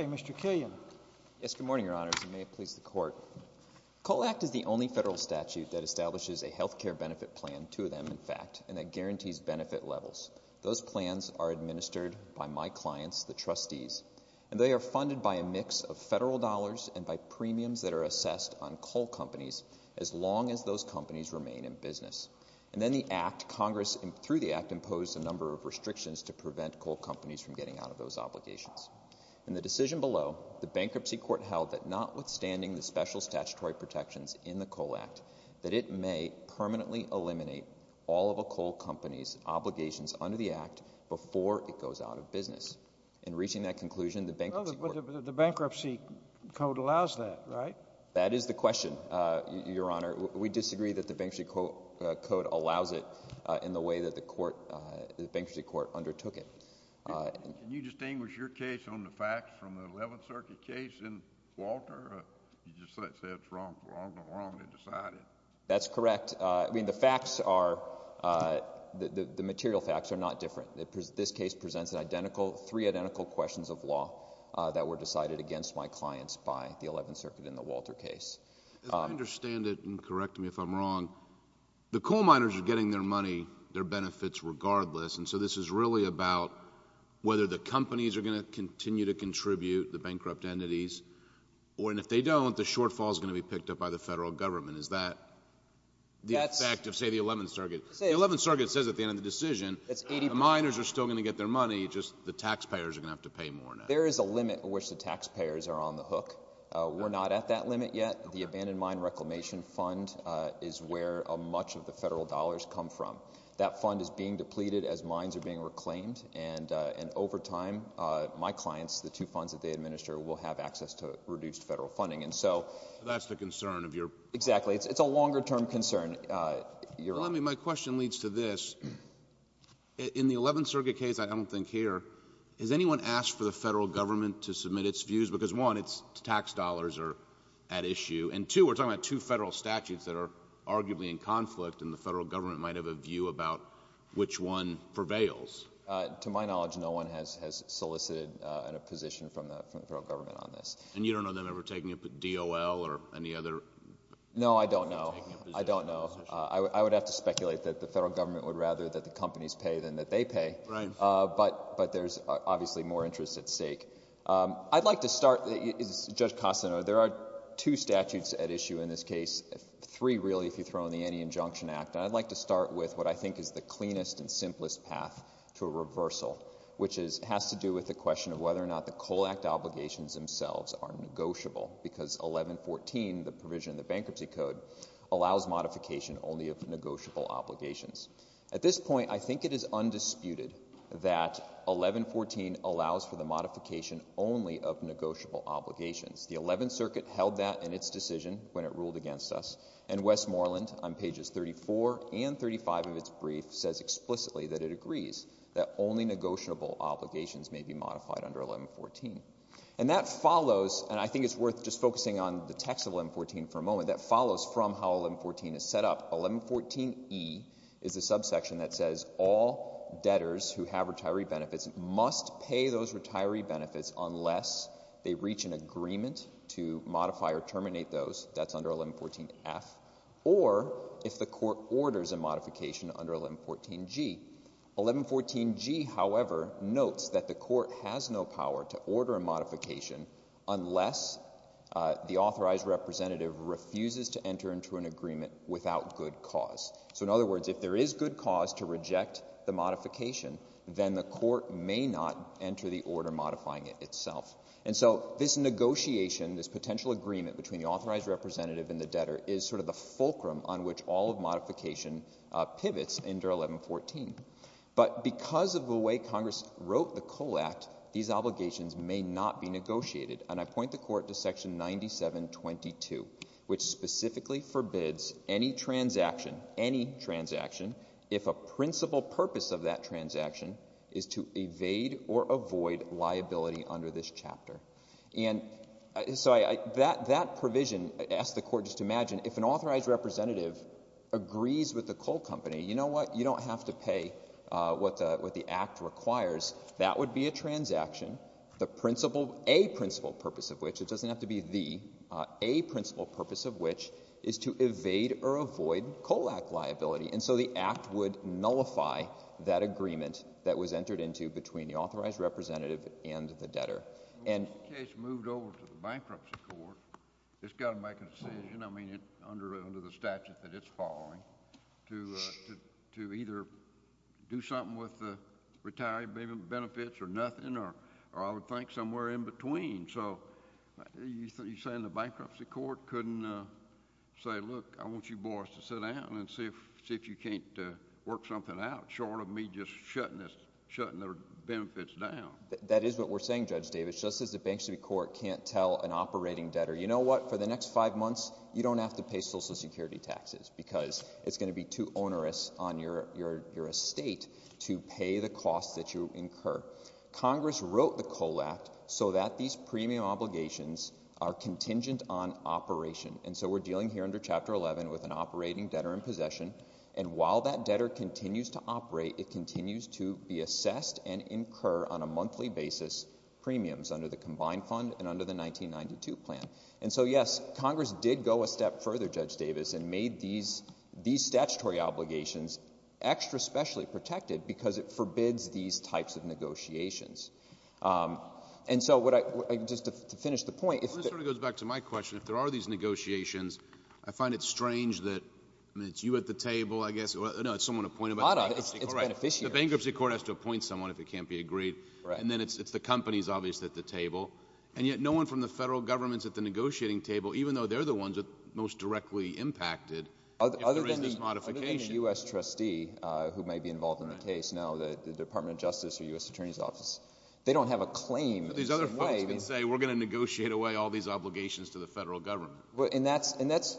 Mr. Killian Yes, good morning, Your Honors, and may it please the Court. Coal Act is the only federal statute that establishes a health care benefit plan, two of them, in fact, and that guarantees benefit levels. Those plans are administered by my clients, the trustees, and they are funded by a mix of federal dollars and by premiums that are assessed on coal companies as long as those companies remain in business. And then the Act, Congress, through the Act, imposed a number of restrictions to prevent coal companies from getting out of those obligations. In the decision below, the Bankruptcy Court held that notwithstanding the special statutory protections in the Coal Act, that it may permanently eliminate all of a coal company's obligations under the Act before it goes out of business. In reaching that conclusion, the Bankruptcy Court Well, but the Bankruptcy Code allows that, right? That is the question, Your Honor. We disagree that the Bankruptcy Code allows it in the way that the Bankruptcy Court undertook it. Can you distinguish your case on the facts from the Eleventh Circuit case in Walter? You just say it's wrong from wrong to wrong to decide it. That's correct. I mean, the facts are, the material facts are not different. This case presents an identical, three identical questions of law that were decided against my clients by the Eleventh Circuit in the Walter case. As I understand it, and correct me if I'm wrong, the coal miners are getting their money, their benefits regardless, and so this is really about whether the companies are going to continue to contribute, the bankrupt entities, or, and if they don't, the shortfall is going to be picked up by the federal government. Is that the effect of, say, the Eleventh Circuit? The Eleventh Circuit says at the end of the decision, the miners are still going to get their money, just the taxpayers are going to have to pay more now. There is a limit at which the taxpayers are on the hook. We're not at that limit yet. The Abandoned Mine Reclamation Fund is where much of the federal dollars come from. That fund is being depleted as mines are being reclaimed, and over time, my clients, the two funds that they administer, will have access to reduced federal funding, and so So that's the concern of your Exactly. It's a longer term concern, Your Honor. Well, let me, my question leads to this. In the Eleventh Circuit case, I don't think here, has anyone asked for the federal government to submit its views? Because one, its tax dollars are at issue, and two, we're talking about two federal statutes that are arguably in conflict, and the federal government might have a view about which one prevails. To my knowledge, no one has solicited a position from the federal government on this. And you don't know if they're taking a DOL or any other No, I don't know. I don't know. I would have to speculate that the federal government would rather that the companies pay than that they pay, but there's obviously more interest at stake. I'd like to start, Judge Costano, there are two statutes at issue in this case, three really if you throw in the Any Injunction Act, and I'd like to start with what I think is the cleanest and simplest path to a reversal, which has to do with the question of whether or not the COLACT obligations themselves are negotiable, because 1114, the provision in the Bankruptcy Code, allows modification only of negotiable obligations. At this point, I think it is undisputed that 1114 allows for the modification only of negotiable obligations. The Eleventh Circuit held that in its decision when it ruled against us, and Westmoreland on pages 34 and 35 of its brief says explicitly that it agrees that only negotiable obligations may be modified under 1114. And that follows, and I think it's worth just focusing on the text of 1114 for a moment, that follows from how 1114 is set up. 1114E is a subsection that says all debtors who have retiree benefits must pay those retiree benefits unless they reach an agreement to modify or terminate those, that's under 1114F, or if the court orders a modification under 1114G. 1114G, however, notes that the court has no power to order a modification unless the authorized representative refuses to enter into an agreement without good cause. So in other words, if there is good cause to reject the modification, then the court may not enter the order modifying it itself. And so this negotiation, this potential agreement between the authorized representative and the debtor is sort of the fulcrum on which all of modification pivots under 1114. But because of the way Congress wrote the COLE Act, these obligations may not be negotiated. And I point the Court to Section 9722, which specifically forbids any transaction, any transaction, if a principal purpose of that transaction is to evade or avoid liability under this chapter. And so that provision asks the Court just to imagine if an authorized representative agrees with the coal company, you know what, you don't have to pay what the Act requires. That would be a transaction, a principal purpose of which, it doesn't have to be the, a principal purpose of which is to evade or avoid COLE Act liability. And so the Act would nullify that agreement that was entered into between the authorized representative and the debtor. If the case moved over to the Bankruptcy Court, it's got to make a decision, I mean, under the statute that it's following, to either do something with the retirement benefits or nothing, or I would think somewhere in between. So you're saying the Bankruptcy Court couldn't say, look, I want you boys to sit down and see if you can't work something out, short of me just shutting the benefits down? That is what we're saying, Judge Davis, just as the Bankruptcy Court can't tell an operating debtor, you know what, for the next five months, you don't have to pay Social Security taxes because it's going to be too onerous on your estate to pay the costs that you incur. Congress wrote the COLE Act so that these premium obligations are contingent on operation. And so we're dealing here under Chapter 11 with an operating debtor in possession, and while that debtor continues to operate, it continues to be assessed and incur on a monthly basis premiums under the Combined Fund and under the 1992 plan. And so, yes, Congress did go a step further, Judge Davis, and made these statutory obligations extra specially protected because it forbids these types of negotiations. And so, just to finish the point— Well, this sort of goes back to my question, if there are these negotiations, I find it No, it's someone appointed by the Bankruptcy Court. Hold on. It's beneficiary. Right. The Bankruptcy Court has to appoint someone if it can't be agreed. Right. And then it's the companies, obviously, at the table. And yet no one from the federal government's at the negotiating table, even though they're the ones that are most directly impacted if there is this modification. Other than the U.S. trustee who may be involved in the case now, the Department of Justice or U.S. Attorney's Office, they don't have a claim in the same way. These other folks can say, we're going to negotiate away all these obligations to the federal government. And that's,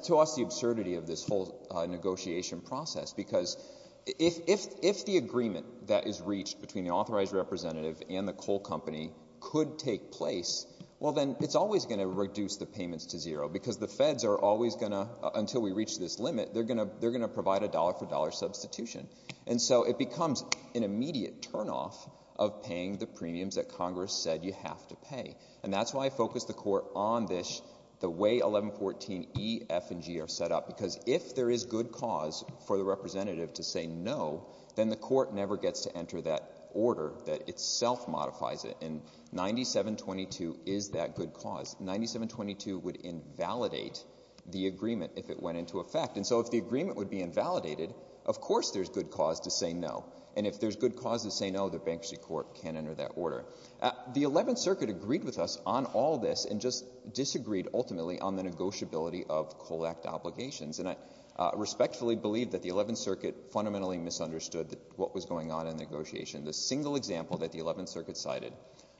to us, the absurdity of this whole negotiation process. Because if the agreement that is reached between the authorized representative and the coal company could take place, well, then it's always going to reduce the payments to zero because the feds are always going to—until we reach this limit, they're going to provide a dollar-for-dollar substitution. And so it becomes an immediate turnoff of paying the premiums that Congress said you have to pay. And that's why I focused the court on this, the way 1114E, F, and G are set up. Because if there is good cause for the representative to say no, then the court never gets to enter that order that itself modifies it. And 9722 is that good cause. 9722 would invalidate the agreement if it went into effect. And so if the agreement would be invalidated, of course there's good cause to say no. And if there's good cause to say no, the bankruptcy court can't enter that order. The Eleventh Circuit agreed with us on all this and just disagreed, ultimately, on the negotiability of Coal Act obligations. And I respectfully believe that the Eleventh Circuit fundamentally misunderstood what was going on in the negotiation. The single example that the Eleventh Circuit cited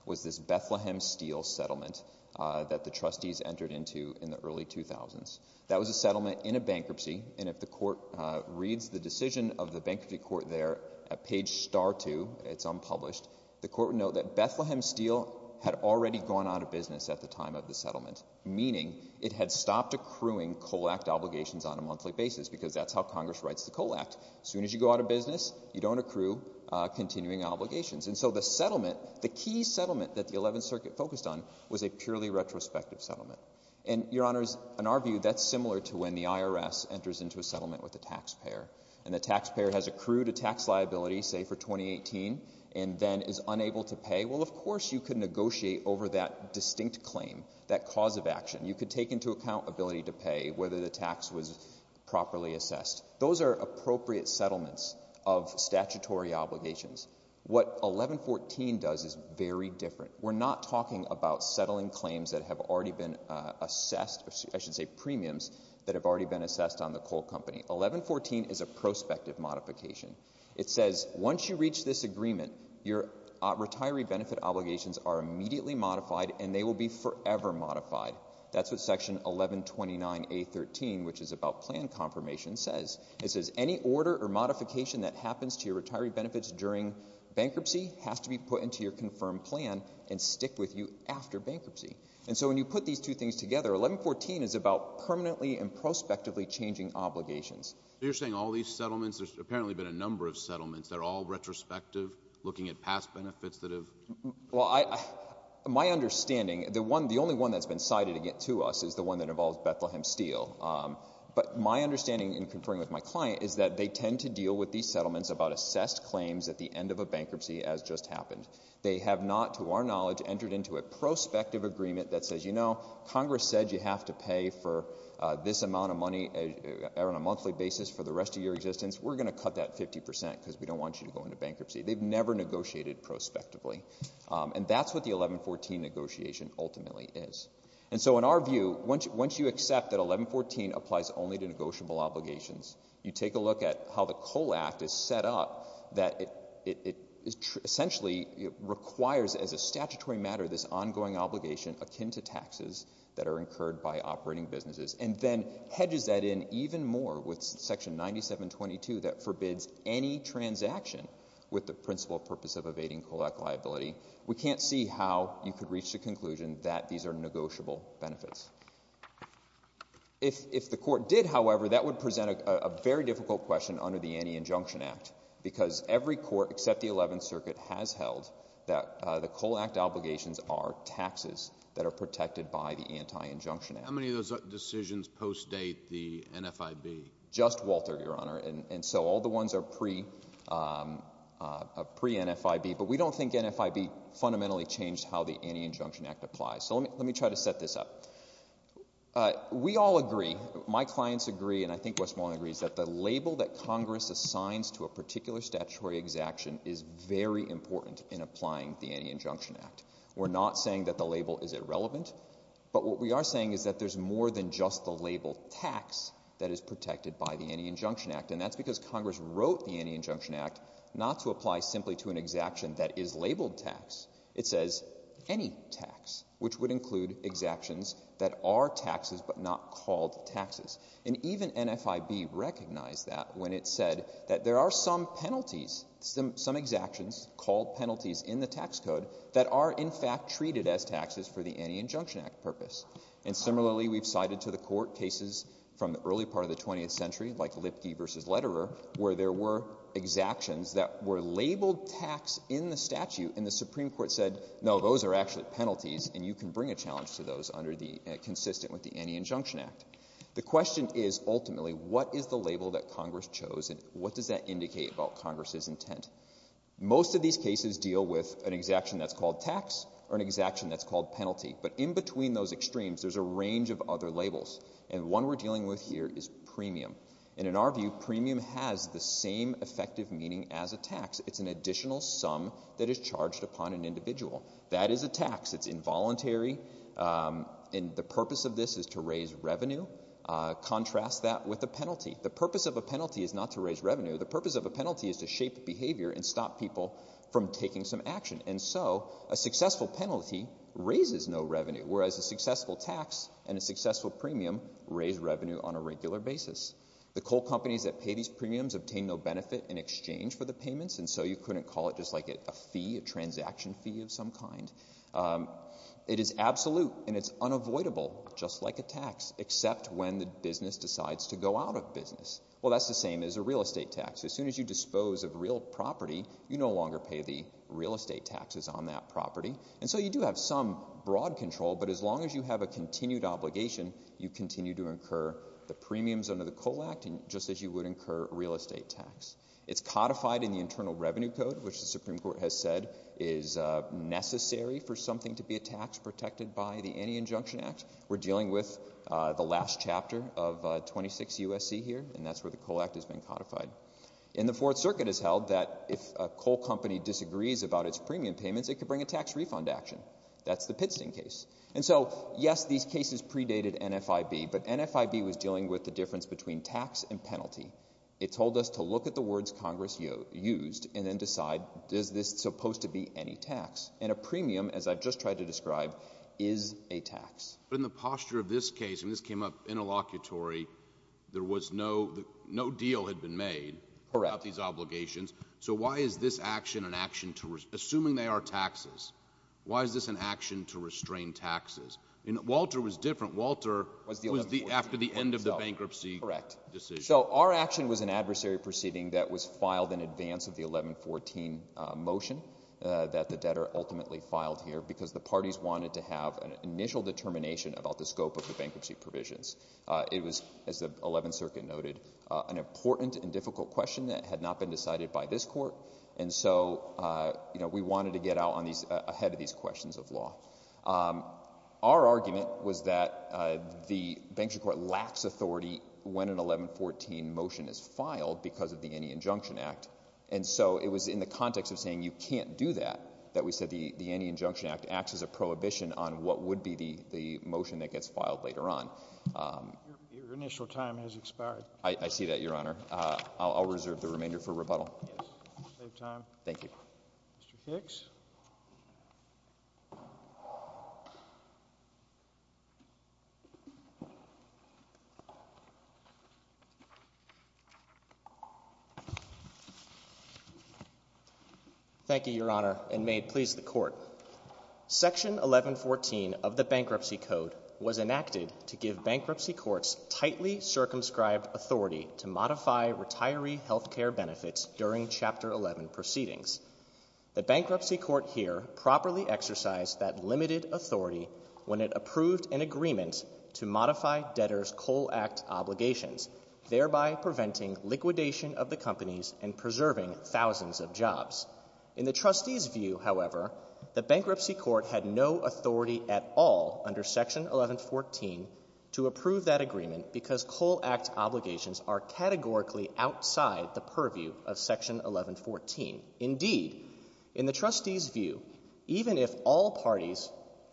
was this Bethlehem Steel settlement that the trustees entered into in the early 2000s. That was a settlement in a bankruptcy, and if the court reads the decision of the bankruptcy court there at page star 2, it's unpublished, the court would note that Bethlehem Steel had already gone out of business at the time of the settlement, meaning it had stopped accruing Coal Act obligations on a monthly basis, because that's how Congress writes the Coal Act. As soon as you go out of business, you don't accrue continuing obligations. And so the settlement, the key settlement that the Eleventh Circuit focused on was a purely retrospective settlement. And Your Honors, in our view, that's similar to when the IRS enters into a settlement with a taxpayer. And the taxpayer has accrued a tax liability, say, for 2018, and then is unable to pay. Well, of course you could negotiate over that distinct claim, that cause of action. You could take into account ability to pay, whether the tax was properly assessed. Those are appropriate settlements of statutory obligations. What 1114 does is very different. We're not talking about settling claims that have already been assessed, I should say premiums, that have already been assessed on the coal company. 1114 is a prospective modification. It says once you reach this agreement, your retiree benefit obligations are immediately modified and they will be forever modified. That's what Section 1129A.13, which is about plan confirmation, says. It says any order or modification that happens to your retiree benefits during bankruptcy has to be put into your confirmed plan and stick with you after bankruptcy. And so when you put these two things together, 1114 is about permanently and prospectively changing obligations. So you're saying all these settlements, there's apparently been a number of settlements, they're all retrospective, looking at past benefits that have... Well, my understanding, the only one that's been cited to us is the one that involves Bethlehem Steel. But my understanding, in conferring with my client, is that they tend to deal with these settlements about assessed claims at the end of a bankruptcy, as just happened. They have not, to our knowledge, entered into a prospective agreement that says, you know, this amount of money on a monthly basis for the rest of your existence, we're going to cut that 50% because we don't want you to go into bankruptcy. They've never negotiated prospectively. And that's what the 1114 negotiation ultimately is. And so in our view, once you accept that 1114 applies only to negotiable obligations, you take a look at how the COLE Act is set up that it essentially requires, as a statutory matter, this ongoing obligation akin to taxes that are incurred by operating businesses. And then hedges that in even more with Section 9722 that forbids any transaction with the principal purpose of evading COLE Act liability. We can't see how you could reach the conclusion that these are negotiable benefits. If the court did, however, that would present a very difficult question under the Anti-Injunction Act, because every court except the 11th Circuit has held that the COLE Act obligations are taxes that are protected by the Anti-Injunction Act. How many of those decisions post-date the NFIB? Just Walter, Your Honor. And so all the ones are pre-NFIB. But we don't think NFIB fundamentally changed how the Anti-Injunction Act applies. So let me try to set this up. We all agree, my clients agree, and I think Westmoreland agrees, that the label that Congress assigns to a particular statutory exaction is very important in applying the Anti-Injunction Act. We're not saying that the label is irrelevant. But what we are saying is that there's more than just the label tax that is protected by the Anti-Injunction Act. And that's because Congress wrote the Anti-Injunction Act not to apply simply to an exaction that is labeled tax. It says any tax, which would include exactions that are taxes but not called taxes. And even NFIB recognized that when it said that there are some penalties, some exactions called penalties in the tax code, that are in fact treated as taxes for the Anti-Injunction Act purpose. And similarly, we've cited to the court cases from the early part of the 20th century, like Lipke v. Letterer, where there were exactions that were labeled tax in the statute, and the Supreme Court said, no, those are actually penalties, and you can bring a challenge to those under the, consistent with the Anti-Injunction Act. The question is, ultimately, what is the label that Congress chose, and what does that indicate about Congress's intent? Most of these cases deal with an exaction that's called tax, or an exaction that's called penalty. But in between those extremes, there's a range of other labels. And one we're dealing with here is premium. And in our view, premium has the same effective meaning as a tax. It's an additional sum that is charged upon an individual. That is a tax. It's involuntary. And the purpose of this is to raise revenue. Contrast that with a penalty. The purpose of a penalty is not to raise revenue. The purpose of a penalty is to shape behavior and stop people from taking some action. And so, a successful penalty raises no revenue, whereas a successful tax and a successful premium raise revenue on a regular basis. The coal companies that pay these premiums obtain no benefit in exchange for the payments, and so you couldn't call it just like a fee, a transaction fee of some kind. It is absolute, and it's unavoidable, just like a tax, except when the business decides to go out of business. Well, that's the same as a real estate tax. As soon as you dispose of real property, you no longer pay the real estate taxes on that property. And so you do have some broad control, but as long as you have a continued obligation, you continue to incur the premiums under the Coal Act, just as you would incur a real estate tax. It's codified in the Internal Revenue Code, which the Supreme Court has said is necessary for something to be a tax protected by the Anti-Injunction Act. We're dealing with the last chapter of 26 U.S.C. here, and that's where the Coal Act has been codified. And the Fourth Circuit has held that if a coal company disagrees about its premium payments, it could bring a tax refund action. That's the Pittstein case. And so, yes, these cases predated NFIB, but NFIB was dealing with the difference between tax and penalty. It told us to look at the words Congress used and then decide, is this supposed to be any tax? And a premium, as I've just tried to describe, is a tax. But in the posture of this case, when this came up interlocutory, there was no, no deal had been made about these obligations. So why is this action an action to, assuming they are taxes, why is this an action to restrain taxes? Walter was different. Walter was the, after the end of the bankruptcy decision. So our action was an adversary proceeding that was filed in advance of the 1114 motion that the debtor ultimately filed here, because the parties wanted to have an initial determination about the scope of the bankruptcy provisions. It was, as the Eleventh Circuit noted, an important and difficult question that had not been decided by this Court. And so, you know, we wanted to get out on these, ahead of these questions of law. Our argument was that the Bankruptcy Court lacks authority when an 1114 motion is filed because of the Any Injunction Act. And so it was in the context of saying, you can't do that, that we said the Any Injunction Act acts as a prohibition on what would be the motion that gets filed later on. Your initial time has expired. I see that, Your Honor. I'll reserve the remainder for rebuttal. Yes. Save time. Thank you. Mr. Hicks. Thank you, Your Honor, and may it please the Court. Section 1114 of the Bankruptcy Code was enacted to give Bankruptcy Courts tightly circumscribed authority to modify retiree health care benefits during Chapter 11 proceedings. The Bankruptcy Court here properly exercised that limited authority when it approved an agreement to modify debtors' COAL Act obligations, thereby preventing liquidation of the companies and preserving thousands of jobs. In the trustees' view, however, the Bankruptcy Court had no authority at all under Section 1114 to approve that agreement because COAL Act obligations are categorically outside the purview of Section 1114. Indeed, in the trustees' view, even if all parties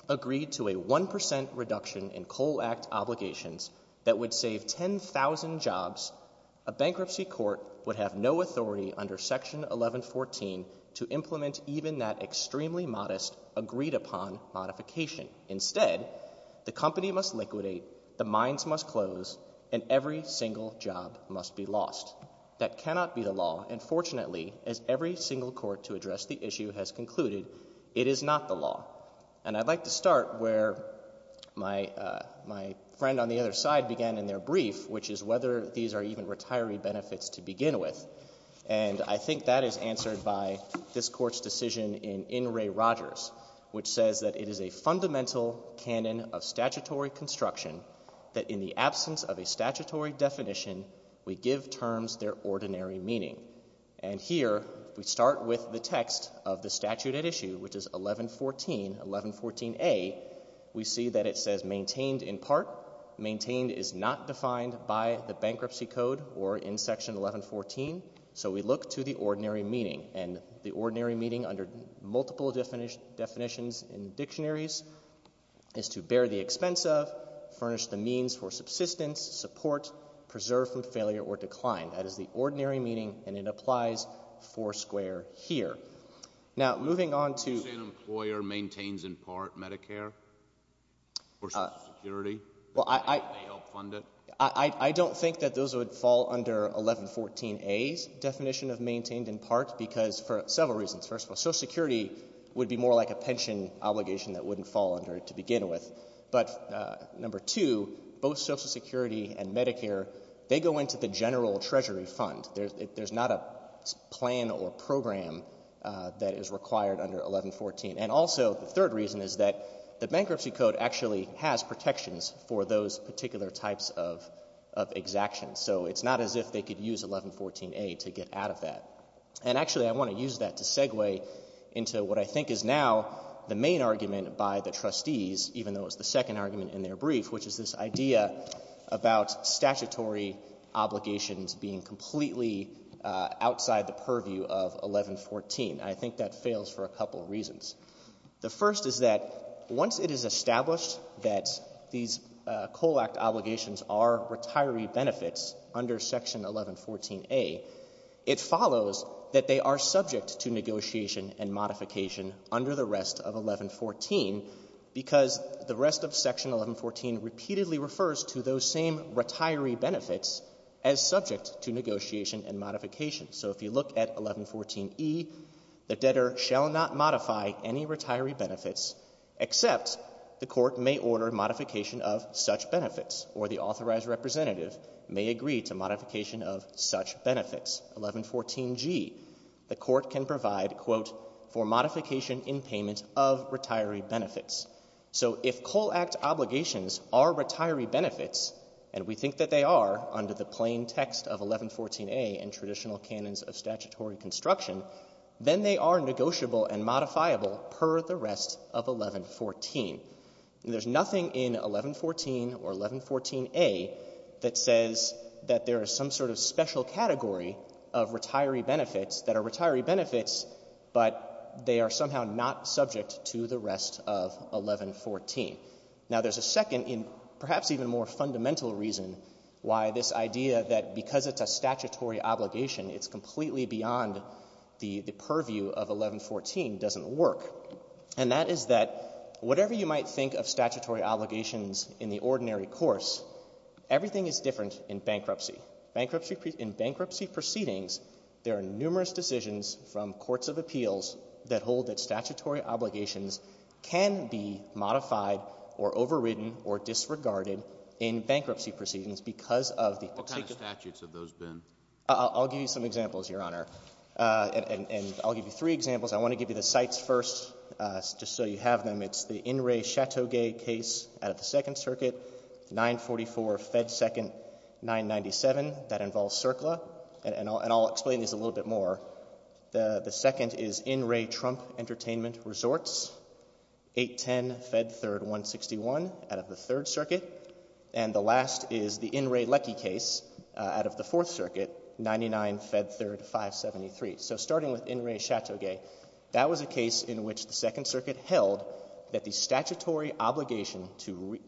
agreed to a 1 percent reduction in Section 1114 to implement even that extremely modest, agreed-upon modification, instead, the company must liquidate, the mines must close, and every single job must be lost. That cannot be the law, and fortunately, as every single court to address the issue has concluded, it is not the law. And I'd like to start where my friend on the other side began in their brief, which is whether these are even retiree benefits to begin with. And I think that is answered by this Court's decision in In re Rogers, which says that it is a fundamental canon of statutory construction that in the absence of a statutory definition, we give terms their ordinary meaning. And here, we start with the text of the statute at issue, which is 1114, 1114a. We see that it says maintained in part. Maintained is not defined by the bankruptcy code or in Section 1114. So we look to the ordinary meaning, and the ordinary meaning under multiple definitions in dictionaries is to bear the expense of, furnish the means for subsistence, support, preserve from failure or decline. That is the ordinary meaning, and it applies foursquare here. Now, moving on to... You're saying an employer maintains in part Medicare or Social Security, and they help fund it? I don't think that those would fall under 1114a's definition of maintained in part because for several reasons. First of all, Social Security would be more like a pension obligation that wouldn't fall under it to begin with. But number two, both Social Security and Medicare, they go into the general treasury fund. There's not a plan or program that is required under 1114. And also, the third reason is that the bankruptcy code actually has protections for those particular types of exactions. So it's not as if they could use 1114a to get out of that. And actually, I want to use that to segue into what I think is now the main argument by the trustees, even though it's the second argument in their brief, which is this idea about statutory obligations being completely outside the purview of 1114. I think that fails for a couple of reasons. The first is that once it is established that these COLACT obligations are retiree benefits under section 1114a, it follows that they are subject to negotiation and modification under the rest of 1114, because the rest of section 1114 repeatedly refers to those same retiree benefits as subject to negotiation and modification. So if you look at 1114e, the debtor shall not modify any retiree benefits except the court may order modification of such benefits, or the authorized representative may agree to modification of such benefits. 1114g, the court can provide, quote, for modification in payment of retiree benefits. So if COLACT obligations are retiree benefits, and we think that they are under the plain text of 1114a in traditional canons of statutory construction, then they are negotiable and modifiable per the rest of 1114. There's nothing in 1114 or 1114a that says that there is some sort of special category of retiree benefits that are retiree benefits, but they are somehow not subject to the rest of 1114. Now there's a second and perhaps even more fundamental reason why this idea that because it's a statutory obligation, it's completely beyond the purview of 1114 doesn't work. And that is that whatever you might think of statutory obligations in the ordinary course, everything is different in bankruptcy. In bankruptcy proceedings, there are numerous decisions from courts of appeals that hold that statutory obligations can be modified or overridden or disregarded in bankruptcy proceedings because of the particular — What kind of statutes have those been? I'll give you some examples, Your Honor. And I'll give you three examples. I want to give you the cites first just so you have them. It's the In re Chateau Gay case out of the Second Circuit, 944 Fed 2nd, 997. That involves CERCLA, and I'll explain these a little bit more. The second is In re Trump Entertainment Resorts, 810 Fed 3rd, 161 out of the Third Circuit. And the last is the In re Leckie case out of the Fourth Circuit, 99 Fed 3rd, 573. So starting with In re Chateau Gay, that was a case in which the Second Circuit held that the statutory obligation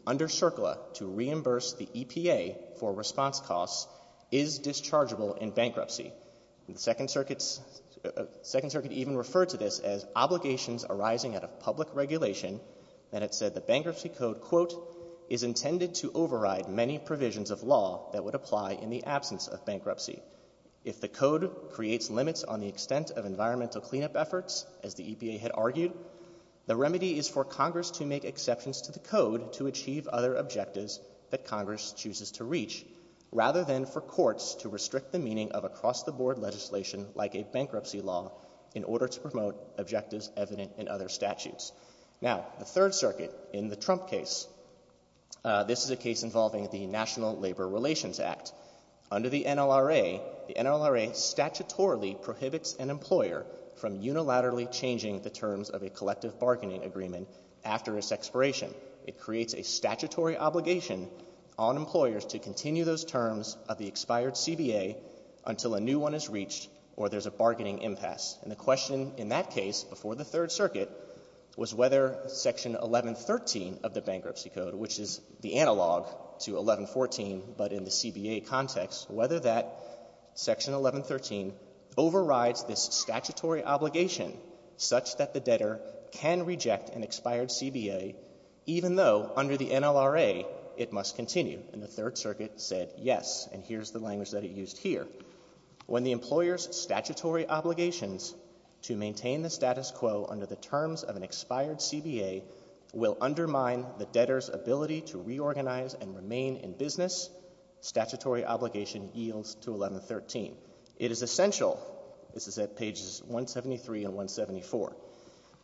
under CERCLA to reimburse the EPA for response costs is dischargeable in bankruptcy. And the Second Circuit even referred to this as obligations arising out of public regulation that it said the bankruptcy code, quote, is intended to override many provisions of law that would apply in the absence of bankruptcy. If the code creates limits on the extent of environmental cleanup efforts, as the EPA had argued, the remedy is for Congress to make exceptions to the code to achieve other objectives that Congress chooses to reach rather than for courts to restrict the meaning of across-the-board legislation like a bankruptcy law in order to promote objectives evident in other statutes. Now, the Third Circuit, in the Trump case, this is a case involving the National Labor Relations Act. Under the NLRA, the NLRA statutorily prohibits an employer from unilaterally changing the terms of a collective bargaining agreement after its expiration. It creates a statutory obligation on employers to continue those terms of the expired CBA until a new one is reached or there's a bargaining impasse. And the question in that case before the Third Circuit was whether Section 1113 of the bankruptcy code, which is the analog to 1114, but in the CBA context, whether that Section 1113 overrides this statutory obligation such that the debtor can reject an expired CBA even though under the NLRA it must continue. And the Third Circuit said yes, and here's the language that it used here. When the employer's statutory obligations to maintain the status quo under the terms of an expired CBA will undermine the debtor's ability to reorganize and remain in business, statutory obligation yields to 1113. It is essential, this is at pages 173 and 174,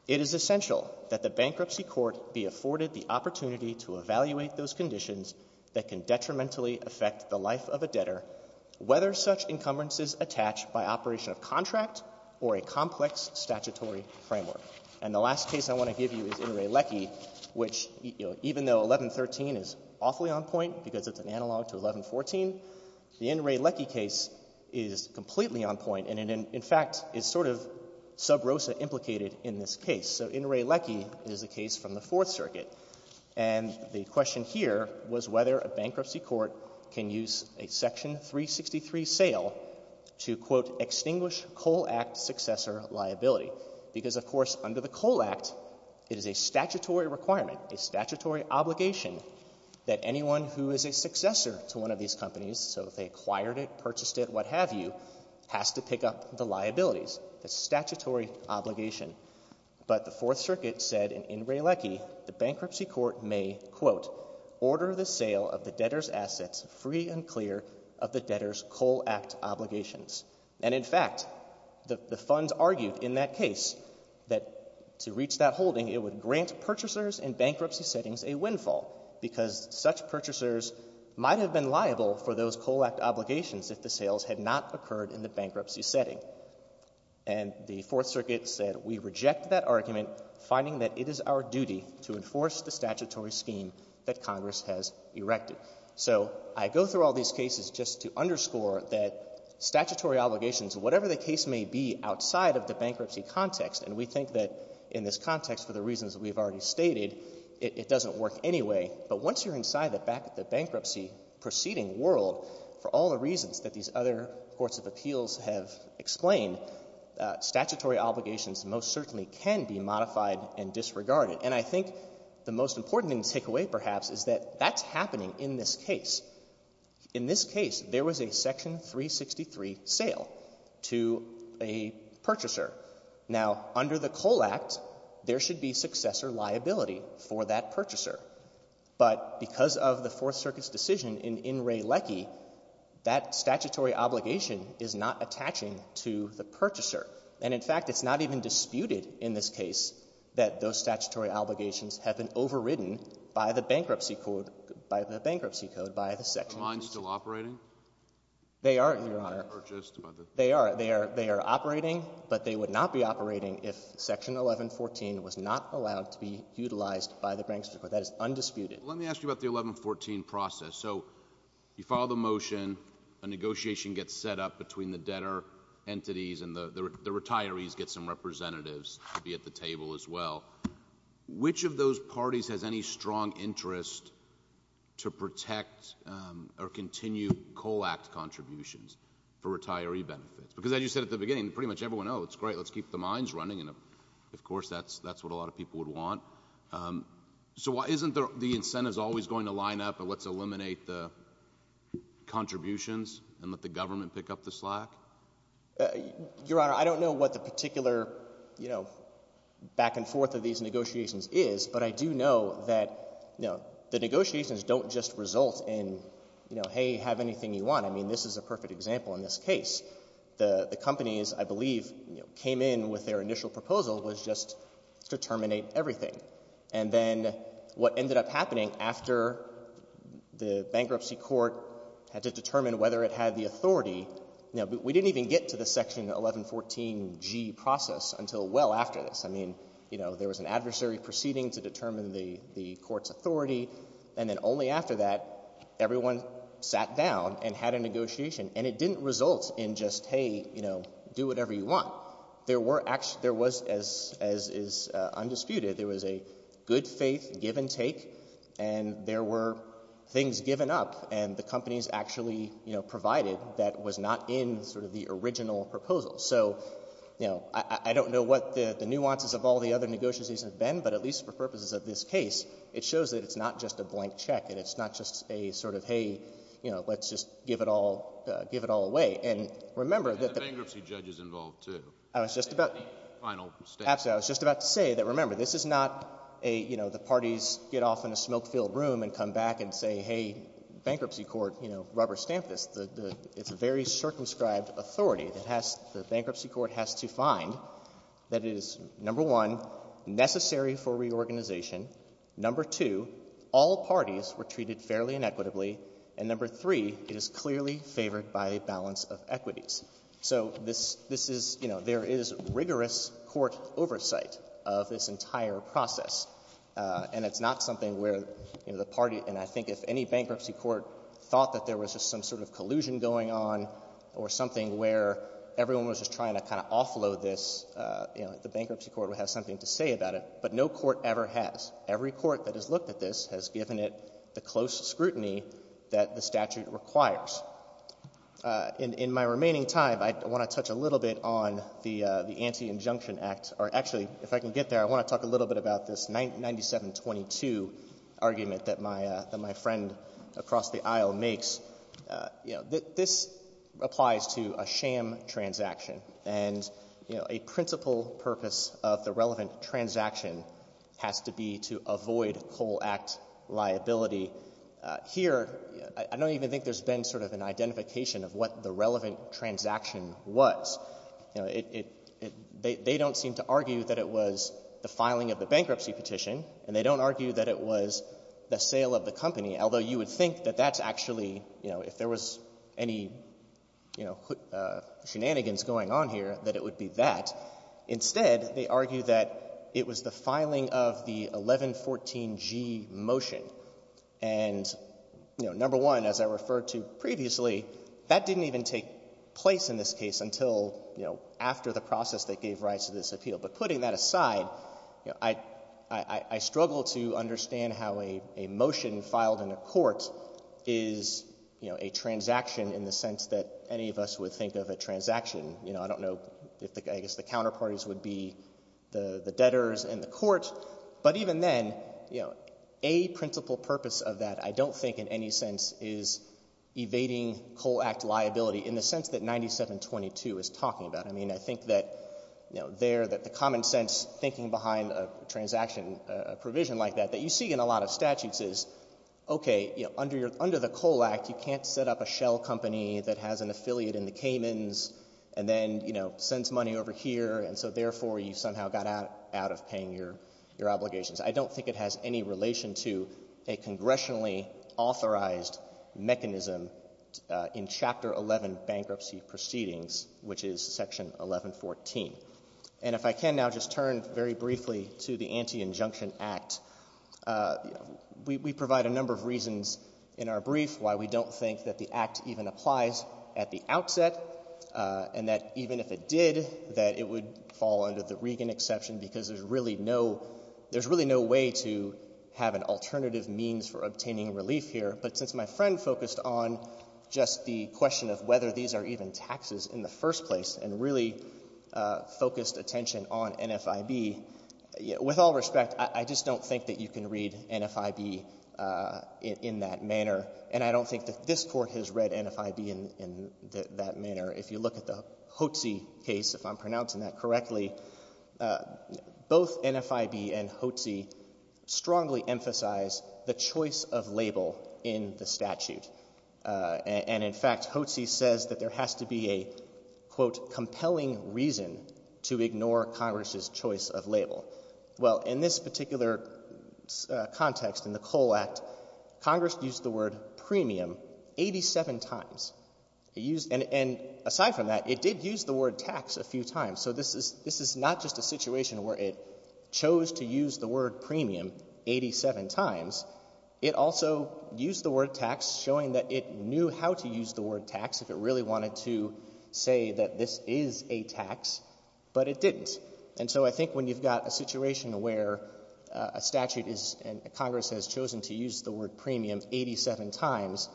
it is essential that the bankruptcy court be afforded the opportunity to evaluate those conditions that can detrimentally affect the life of a debtor, whether such encumbrances attach by operation of contract or a complex statutory framework. And the last case I want to give you is In re Lecce, which, you know, even though 1113 is awfully on point because it's an analog to 1114, the In re Lecce case is completely on point, and it, in fact, is sort of sub rosa implicated in this case. So In re Lecce is a case from the Fourth Circuit, and the question here was whether a bankruptcy court can use a Section 363 sale to, quote, extinguish Coal Act successor liability, because, of course, under the Coal Act, it is a statutory requirement, a statutory obligation that anyone who is a successor to one of these companies, so if they acquired it, purchased it, what have you, has to pick up the liabilities. It's a statutory obligation. But the Fourth Circuit said in In re Lecce the bankruptcy court may, quote, order the sale of the debtor's assets free and clear of the debtor's Coal Act obligations. And, in fact, the funds argued in that case that to reach that holding, it would grant purchasers in bankruptcy settings a windfall, because such purchasers might have been liable for those Coal Act obligations if the sales had not occurred in the bankruptcy setting. And the Fourth Circuit said we reject that argument, finding that it is our duty to enforce the statutory scheme that Congress has erected. So I go through all these cases just to underscore that statutory obligations, whatever the case may be outside of the bankruptcy context, and we think that in this context, for the reasons we've already stated, it doesn't work anyway. But once you're inside the bankruptcy proceeding world, for all the reasons that these other courts of appeals have explained, statutory obligations most certainly can be modified and disregarded. And I think the most important thing to take away, perhaps, is that that's happening in this case. In this case, there was a Section 363 sale to a purchaser. Now, under the Coal Act, there should be successor liability for that purchaser. But because of the Fourth Circuit's decision in Wray-Leckie, that statutory obligation is not attaching to the purchaser. And, in fact, it's not even disputed in this case that those statutory obligations have been overridden by the bankruptcy code, by the bankruptcy code, by the Section 363. Are mine still operating? They are, Your Honor. They are. They are operating, but they would not be operating if Section 1114 was not allowed to be utilized by the bankruptcy court. That is undisputed. Let me ask you about the 1114 process. So you follow the motion. A negotiation gets set up between the debtor entities, and the retirees get some representatives to be at the table as well. Which of those parties has any strong interest to protect or continue Coal Act contributions for retiree benefits? Because, as you said at the beginning, pretty much everyone, oh, it's great, let's keep the mines running. And, of course, that's what a lot of people would want. So isn't the incentives always going to line up, and let's eliminate the contributions and let the government pick up the slack? Your Honor, I don't know what the particular, you know, back and forth of these negotiations is, but I do know that, you know, the negotiations don't just result in, you know, hey, have anything you want. I mean, this is a perfect example in this case. The companies, I believe, you know, came in with their initial proposal was just to terminate everything. And then what ended up happening after the bankruptcy court had to determine whether it had the authority, you know, we didn't even get to the Section 1114g process until well after this. I mean, you know, there was an adversary proceeding to determine the court's authority, and then only after that, everyone sat down and had a negotiation. And it didn't result in just, hey, you know, do whatever you want. There were actually — there was, as is undisputed, there was a good-faith give-and-take, and there were things given up, and the companies actually, you know, provided that was not in sort of the original proposal. So, you know, I don't know what the nuances of all the other negotiations have been, but at least for purposes of this case, it shows that it's not just a blank check and it's not just a sort of, hey, you know, let's just give it all — give it all away. And remember that — And the bankruptcy judge is involved, too. I was just about — Any final statements? Absolutely. I was just about to say that, remember, this is not a, you know, the parties get off in a smoke-filled room and come back and say, hey, bankruptcy court, you know, rubber stamp this. It's a very circumscribed authority that has — the bankruptcy court has to find that it is, number one, necessary for reorganization. Number two, all parties were treated fairly and equitably. So this — this is — you know, there is rigorous court oversight of this entire process. And it's not something where, you know, the party — and I think if any bankruptcy court thought that there was just some sort of collusion going on or something where everyone was just trying to kind of offload this, you know, the bankruptcy court would have something to say about it. But no court ever has. Every court that has looked at this has given it the close scrutiny that the statute requires. In my remaining time, I want to touch a little bit on the Anti-Injunction Act — or actually, if I can get there, I want to talk a little bit about this 9722 argument that my friend across the aisle makes. You know, this applies to a sham transaction. And, you know, a principal purpose of the relevant transaction has to be to avoid Coal Act liability. Here, I don't even think there's been sort of an identification of what the relevant transaction was. You know, it — they don't seem to argue that it was the filing of the bankruptcy petition, and they don't argue that it was the sale of the company, although you would think that that's actually — you know, if there was any, you know, shenanigans going on here, that it would be that. Instead, they argue that it was the filing of the 1114G motion. And, you know, number one, as I referred to previously, that didn't even take place in this case until, you know, after the process that gave rise to this appeal. But putting that aside, you know, I — I struggle to understand how a — a motion filed in a court is, you know, a transaction in the sense that any of us would think of a transaction. You know, I don't know if the — I guess the counterparties would be the debtors and the court, but even then, you know, a principal purpose of that I don't think in any sense is evading Cole Act liability in the sense that 9722 is talking about. I mean, I think that, you know, there that the common sense thinking behind a transaction provision like that that you see in a lot of statutes is, okay, you know, under your — under the Cole Act, you can't set up a shell company that has an affiliate in the Caymans and then, you know, sends money over here, and so therefore you somehow got out — out of paying your — your obligations. I don't think it has any relation to a congressionally authorized mechanism in Chapter 11 bankruptcy proceedings, which is Section 1114. And if I can now just turn very briefly to the Anti-Injunction Act. We — we provide a number of reasons in our brief why we don't think that the Act even applies at the outset and that even if it did, that it would fall under the exception because there's really no — there's really no way to have an alternative means for obtaining relief here. But since my friend focused on just the question of whether these are even taxes in the first place and really focused attention on NFIB, with all respect, I just don't think that you can read NFIB in that manner. And I don't think that this Court has read NFIB in that manner. If you look at the Hoetze case, if I'm pronouncing that correctly, both NFIB and Hoetze strongly emphasize the choice of label in the statute. And in fact, Hoetze says that there has to be a, quote, compelling reason to ignore Congress's choice of label. Well, in this particular context, in the Cole Act, Congress used the word premium 87 times. And aside from that, it did use the word tax a few times. So this is not just a situation where it chose to use the word premium 87 times. It also used the word tax showing that it knew how to use the word tax if it really wanted to say that this is a tax, but it didn't. And so I think when you've got a situation where a statute is — and Congress has chosen to use the word premium 87 times,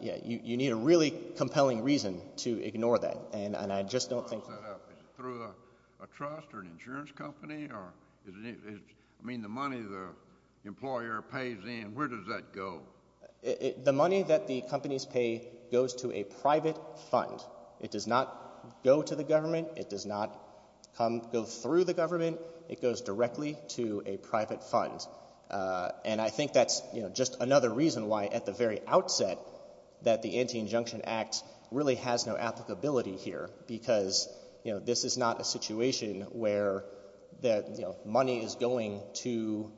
yeah, you need a really compelling reason to ignore that. And I just don't think — So how does that happen? Is it through a trust or an insurance company? Or is it — I mean, the money the employer pays in, where does that go? The money that the companies pay goes to a private fund. It does not go to the government. It does not come — go through the government. It goes directly to a private fund. And I think that's just another reason why, at the very outset, that the Anti-Injunction Act really has no applicability here, because this is not a situation where the money is going to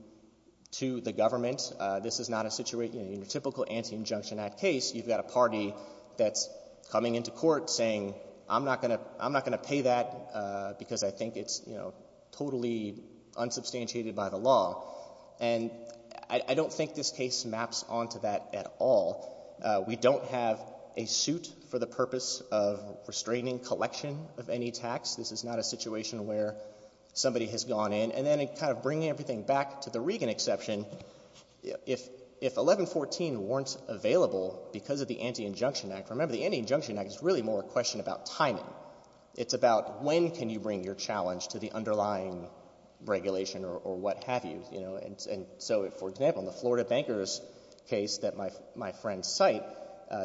the government. This is not a situation — in your typical Anti-Injunction Act case, you've got a party that's coming into court saying, I'm not going to pay that because I think it's totally unsubstantiated by the law. And I don't think this case maps onto that at all. We don't have a suit for the purpose of restraining collection of any tax. This is not a situation where somebody has gone in. And then, kind of bringing everything back to the Regan exception, if 1114 weren't available because of the Anti-Injunction Act — remember, the Anti-Injunction Act is really more a question about timing. It's about when can you bring your challenge to the underlying regulation or what have you. And so, for example, in the Florida Bankers case that my friend's site,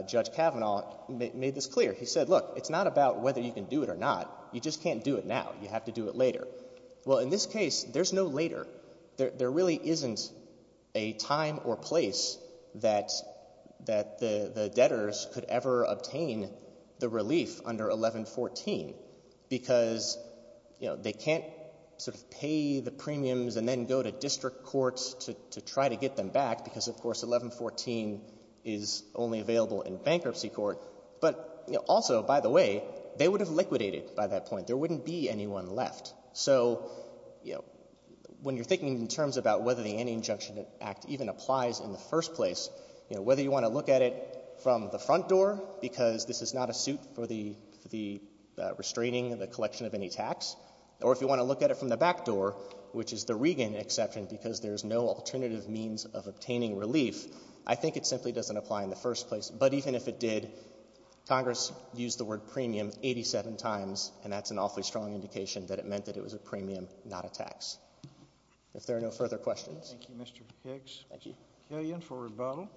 Judge Kavanaugh, made this clear. He said, look, it's not about whether you can do it or not. You just can't do it now. You have to do it later. Well, in this case, there's no later. There really isn't a time or place that the debtors could ever obtain the relief under 1114 because, you know, they can't sort of pay the premiums and then go to district courts to try to get them back because, of course, 1114 is only available in bankruptcy court. But, you know, also, by the way, they would have liquidated by that point. There wouldn't be anyone left. So, you know, when you're thinking in terms about whether the Anti-Injunction Act even applies in the first place, you know, whether you want to look at it from the front door because this is not a suit for the restraining of the collection of any tax, or if you want to look at it from the back door, which is the Regan exception because there's no alternative means of obtaining relief, I think it simply doesn't apply in the first place. But even if it did, Congress used the word premium 87 times, and that's an awfully strong indication that it meant that it was a premium, not a tax. If there are no further questions. Thank you, Mr. Higgs. Thank you. Kagan for rebuttal.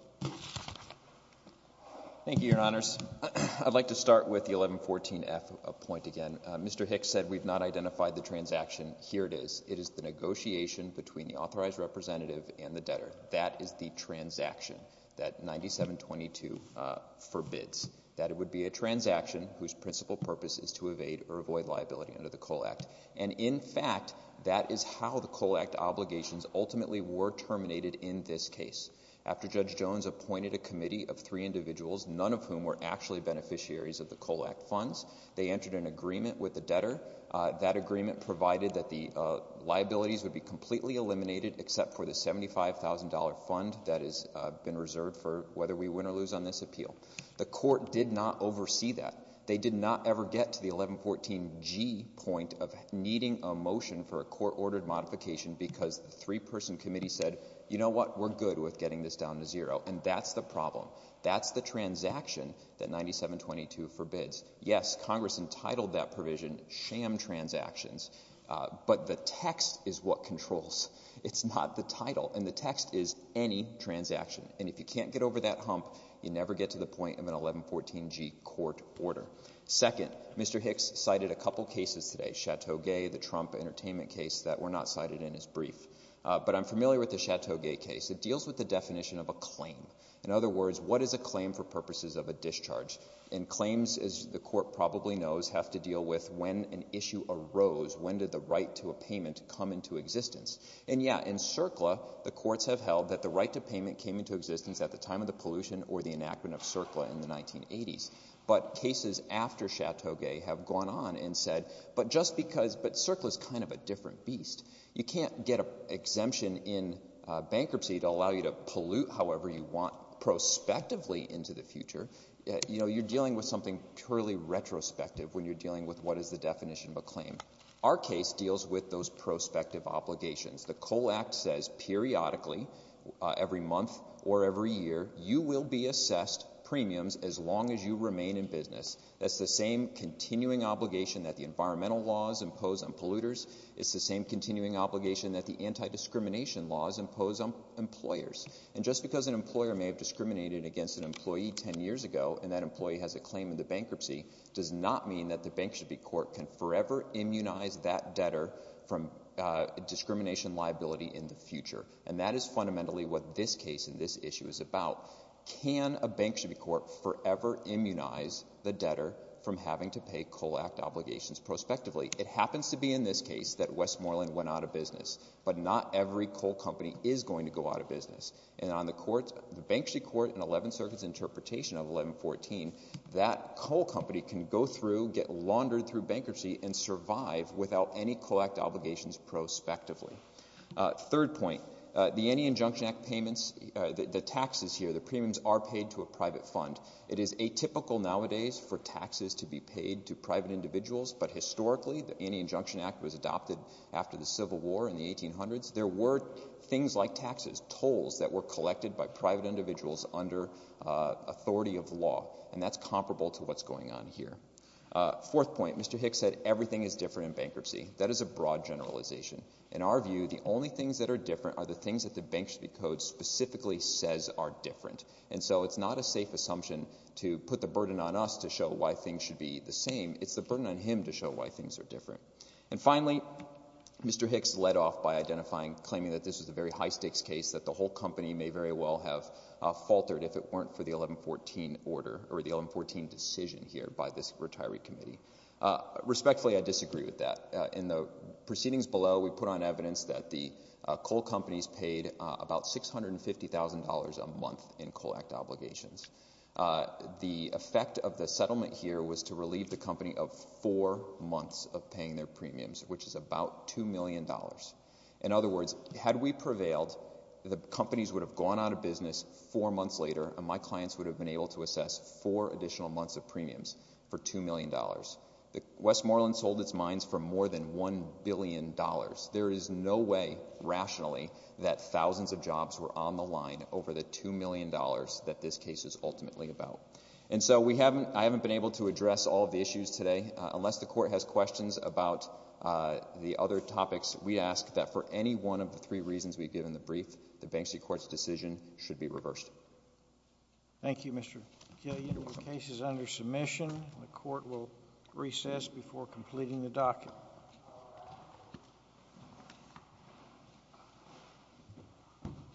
Thank you, Your Honors. I'd like to start with the 1114F point again. Mr. Higgs said we've not identified the transaction. Here it is. It is the negotiation between the authorized representative and the debtor. That is the transaction that 9722 forbids, that it would be a transaction whose principal purpose is to evade or avoid liability under the Cole Act. And in fact, that is how the Cole Act obligations ultimately were terminated in this case. After Judge Jones appointed a committee of three individuals, none of whom were actually beneficiaries of the Cole Act funds, they entered an agreement with the debtor. That agreement provided that the liabilities would be completely eliminated except for the $75,000 fund that has been reserved for whether we win or lose on this appeal. The court did not oversee that. They did not ever get to the 1114G point of needing a motion for a court-ordered modification because the three-person committee said, you know what? We're good with getting this down to zero. And that's the problem. That's the transaction that 9722 forbids. Yes, Congress entitled that provision sham transactions. But the text is what controls. It's not the title. And the text is any transaction. And if you can't get over that hump, you never get to the point of an 1114G court order. Second, Mr. Higgs cited a couple cases today. Chateau Gay, the Trump entertainment case that we're not cited in his brief. But I'm familiar with the Chateau Gay case. It deals with the definition of a claim. In other words, what is a claim for purposes of a discharge? And claims, as the Court probably knows, have to deal with when an issue arose. When did the right to a payment come into existence? And, yeah, in CERCLA, the courts have held that the right to payment came into existence at the time of the pollution or the enactment of CERCLA in the 1980s. But cases after Chateau Gay have gone on and said, but just because — but CERCLA is kind of a different beast. You can't get an exemption in bankruptcy to allow you to pollute however you want prospectively into the future. You know, you're dealing with something purely retrospective when you're dealing with what is the definition of a claim. Our case deals with those prospective obligations. The COAL Act says periodically, every month or every year, you will be assessed premiums as long as you remain in business. That's the same continuing obligation that the environmental laws impose on polluters. It's the same continuing obligation that the anti-discrimination laws impose on employers. And just because an employer may have discriminated against an employee 10 years ago and that employee has a claim in the bankruptcy does not mean that the bank should be court can forever immunize that debtor from discrimination liability in the future. And that is fundamentally what this case and this issue is about. Can a bank should be court forever immunize the debtor from having to pay COAL Act obligations prospectively? It happens to be in this case that Westmoreland went out of business, but not every coal company is going to go out of business. And on the courts, the bankruptcy court and 11th Circuit's interpretation of 1114, that coal company can go through, get laundered through bankruptcy and survive without any COAL Act obligations prospectively. Third point, the Any Injunction Act payments, the taxes here, the premiums are paid to a private fund. It is atypical nowadays for taxes to be paid to private individuals. But historically, the Any Injunction Act was adopted after the Civil War in the 1800s. There were things like taxes, tolls that were collected by private individuals under authority of law. And that's comparable to what's going on here. Fourth point, Mr. Hicks said everything is different in bankruptcy. That is a broad generalization. In our view, the only things that are different are the things that the bank should be code specifically says are different. And so it's not a safe assumption to put the burden on us to show why things should be the same. It's the burden on him to show why things are different. And finally, Mr. Hicks led off by identifying, claiming that this is a very high-stakes case that the whole company may very well have faltered if it weren't for the 1114 order or the 1114 decision here by this retiree committee. Respectfully, I disagree with that. In the proceedings below, we put on evidence that the coal companies paid about $650,000 a month in co-act obligations. The effect of the settlement here was to relieve the company of four months of paying their premiums, which is about $2 million. In other words, had we prevailed, the companies would have gone out of business four months later, and my clients would have been able to assess four additional months of premiums for $2 million. Westmoreland sold its mines for more than $1 billion. There is no way, rationally, that thousands of jobs were on the line over the $2 million that this case is ultimately about. And so I haven't been able to address all of the issues today. Unless the Court has questions about the other topics, we ask that for any one of the three reasons we've given in the brief, the Banksy Court's decision should be reversed. Thank you, Mr. McKillian. Your case is under submission. The Court will recess before completing the docket. Thank you.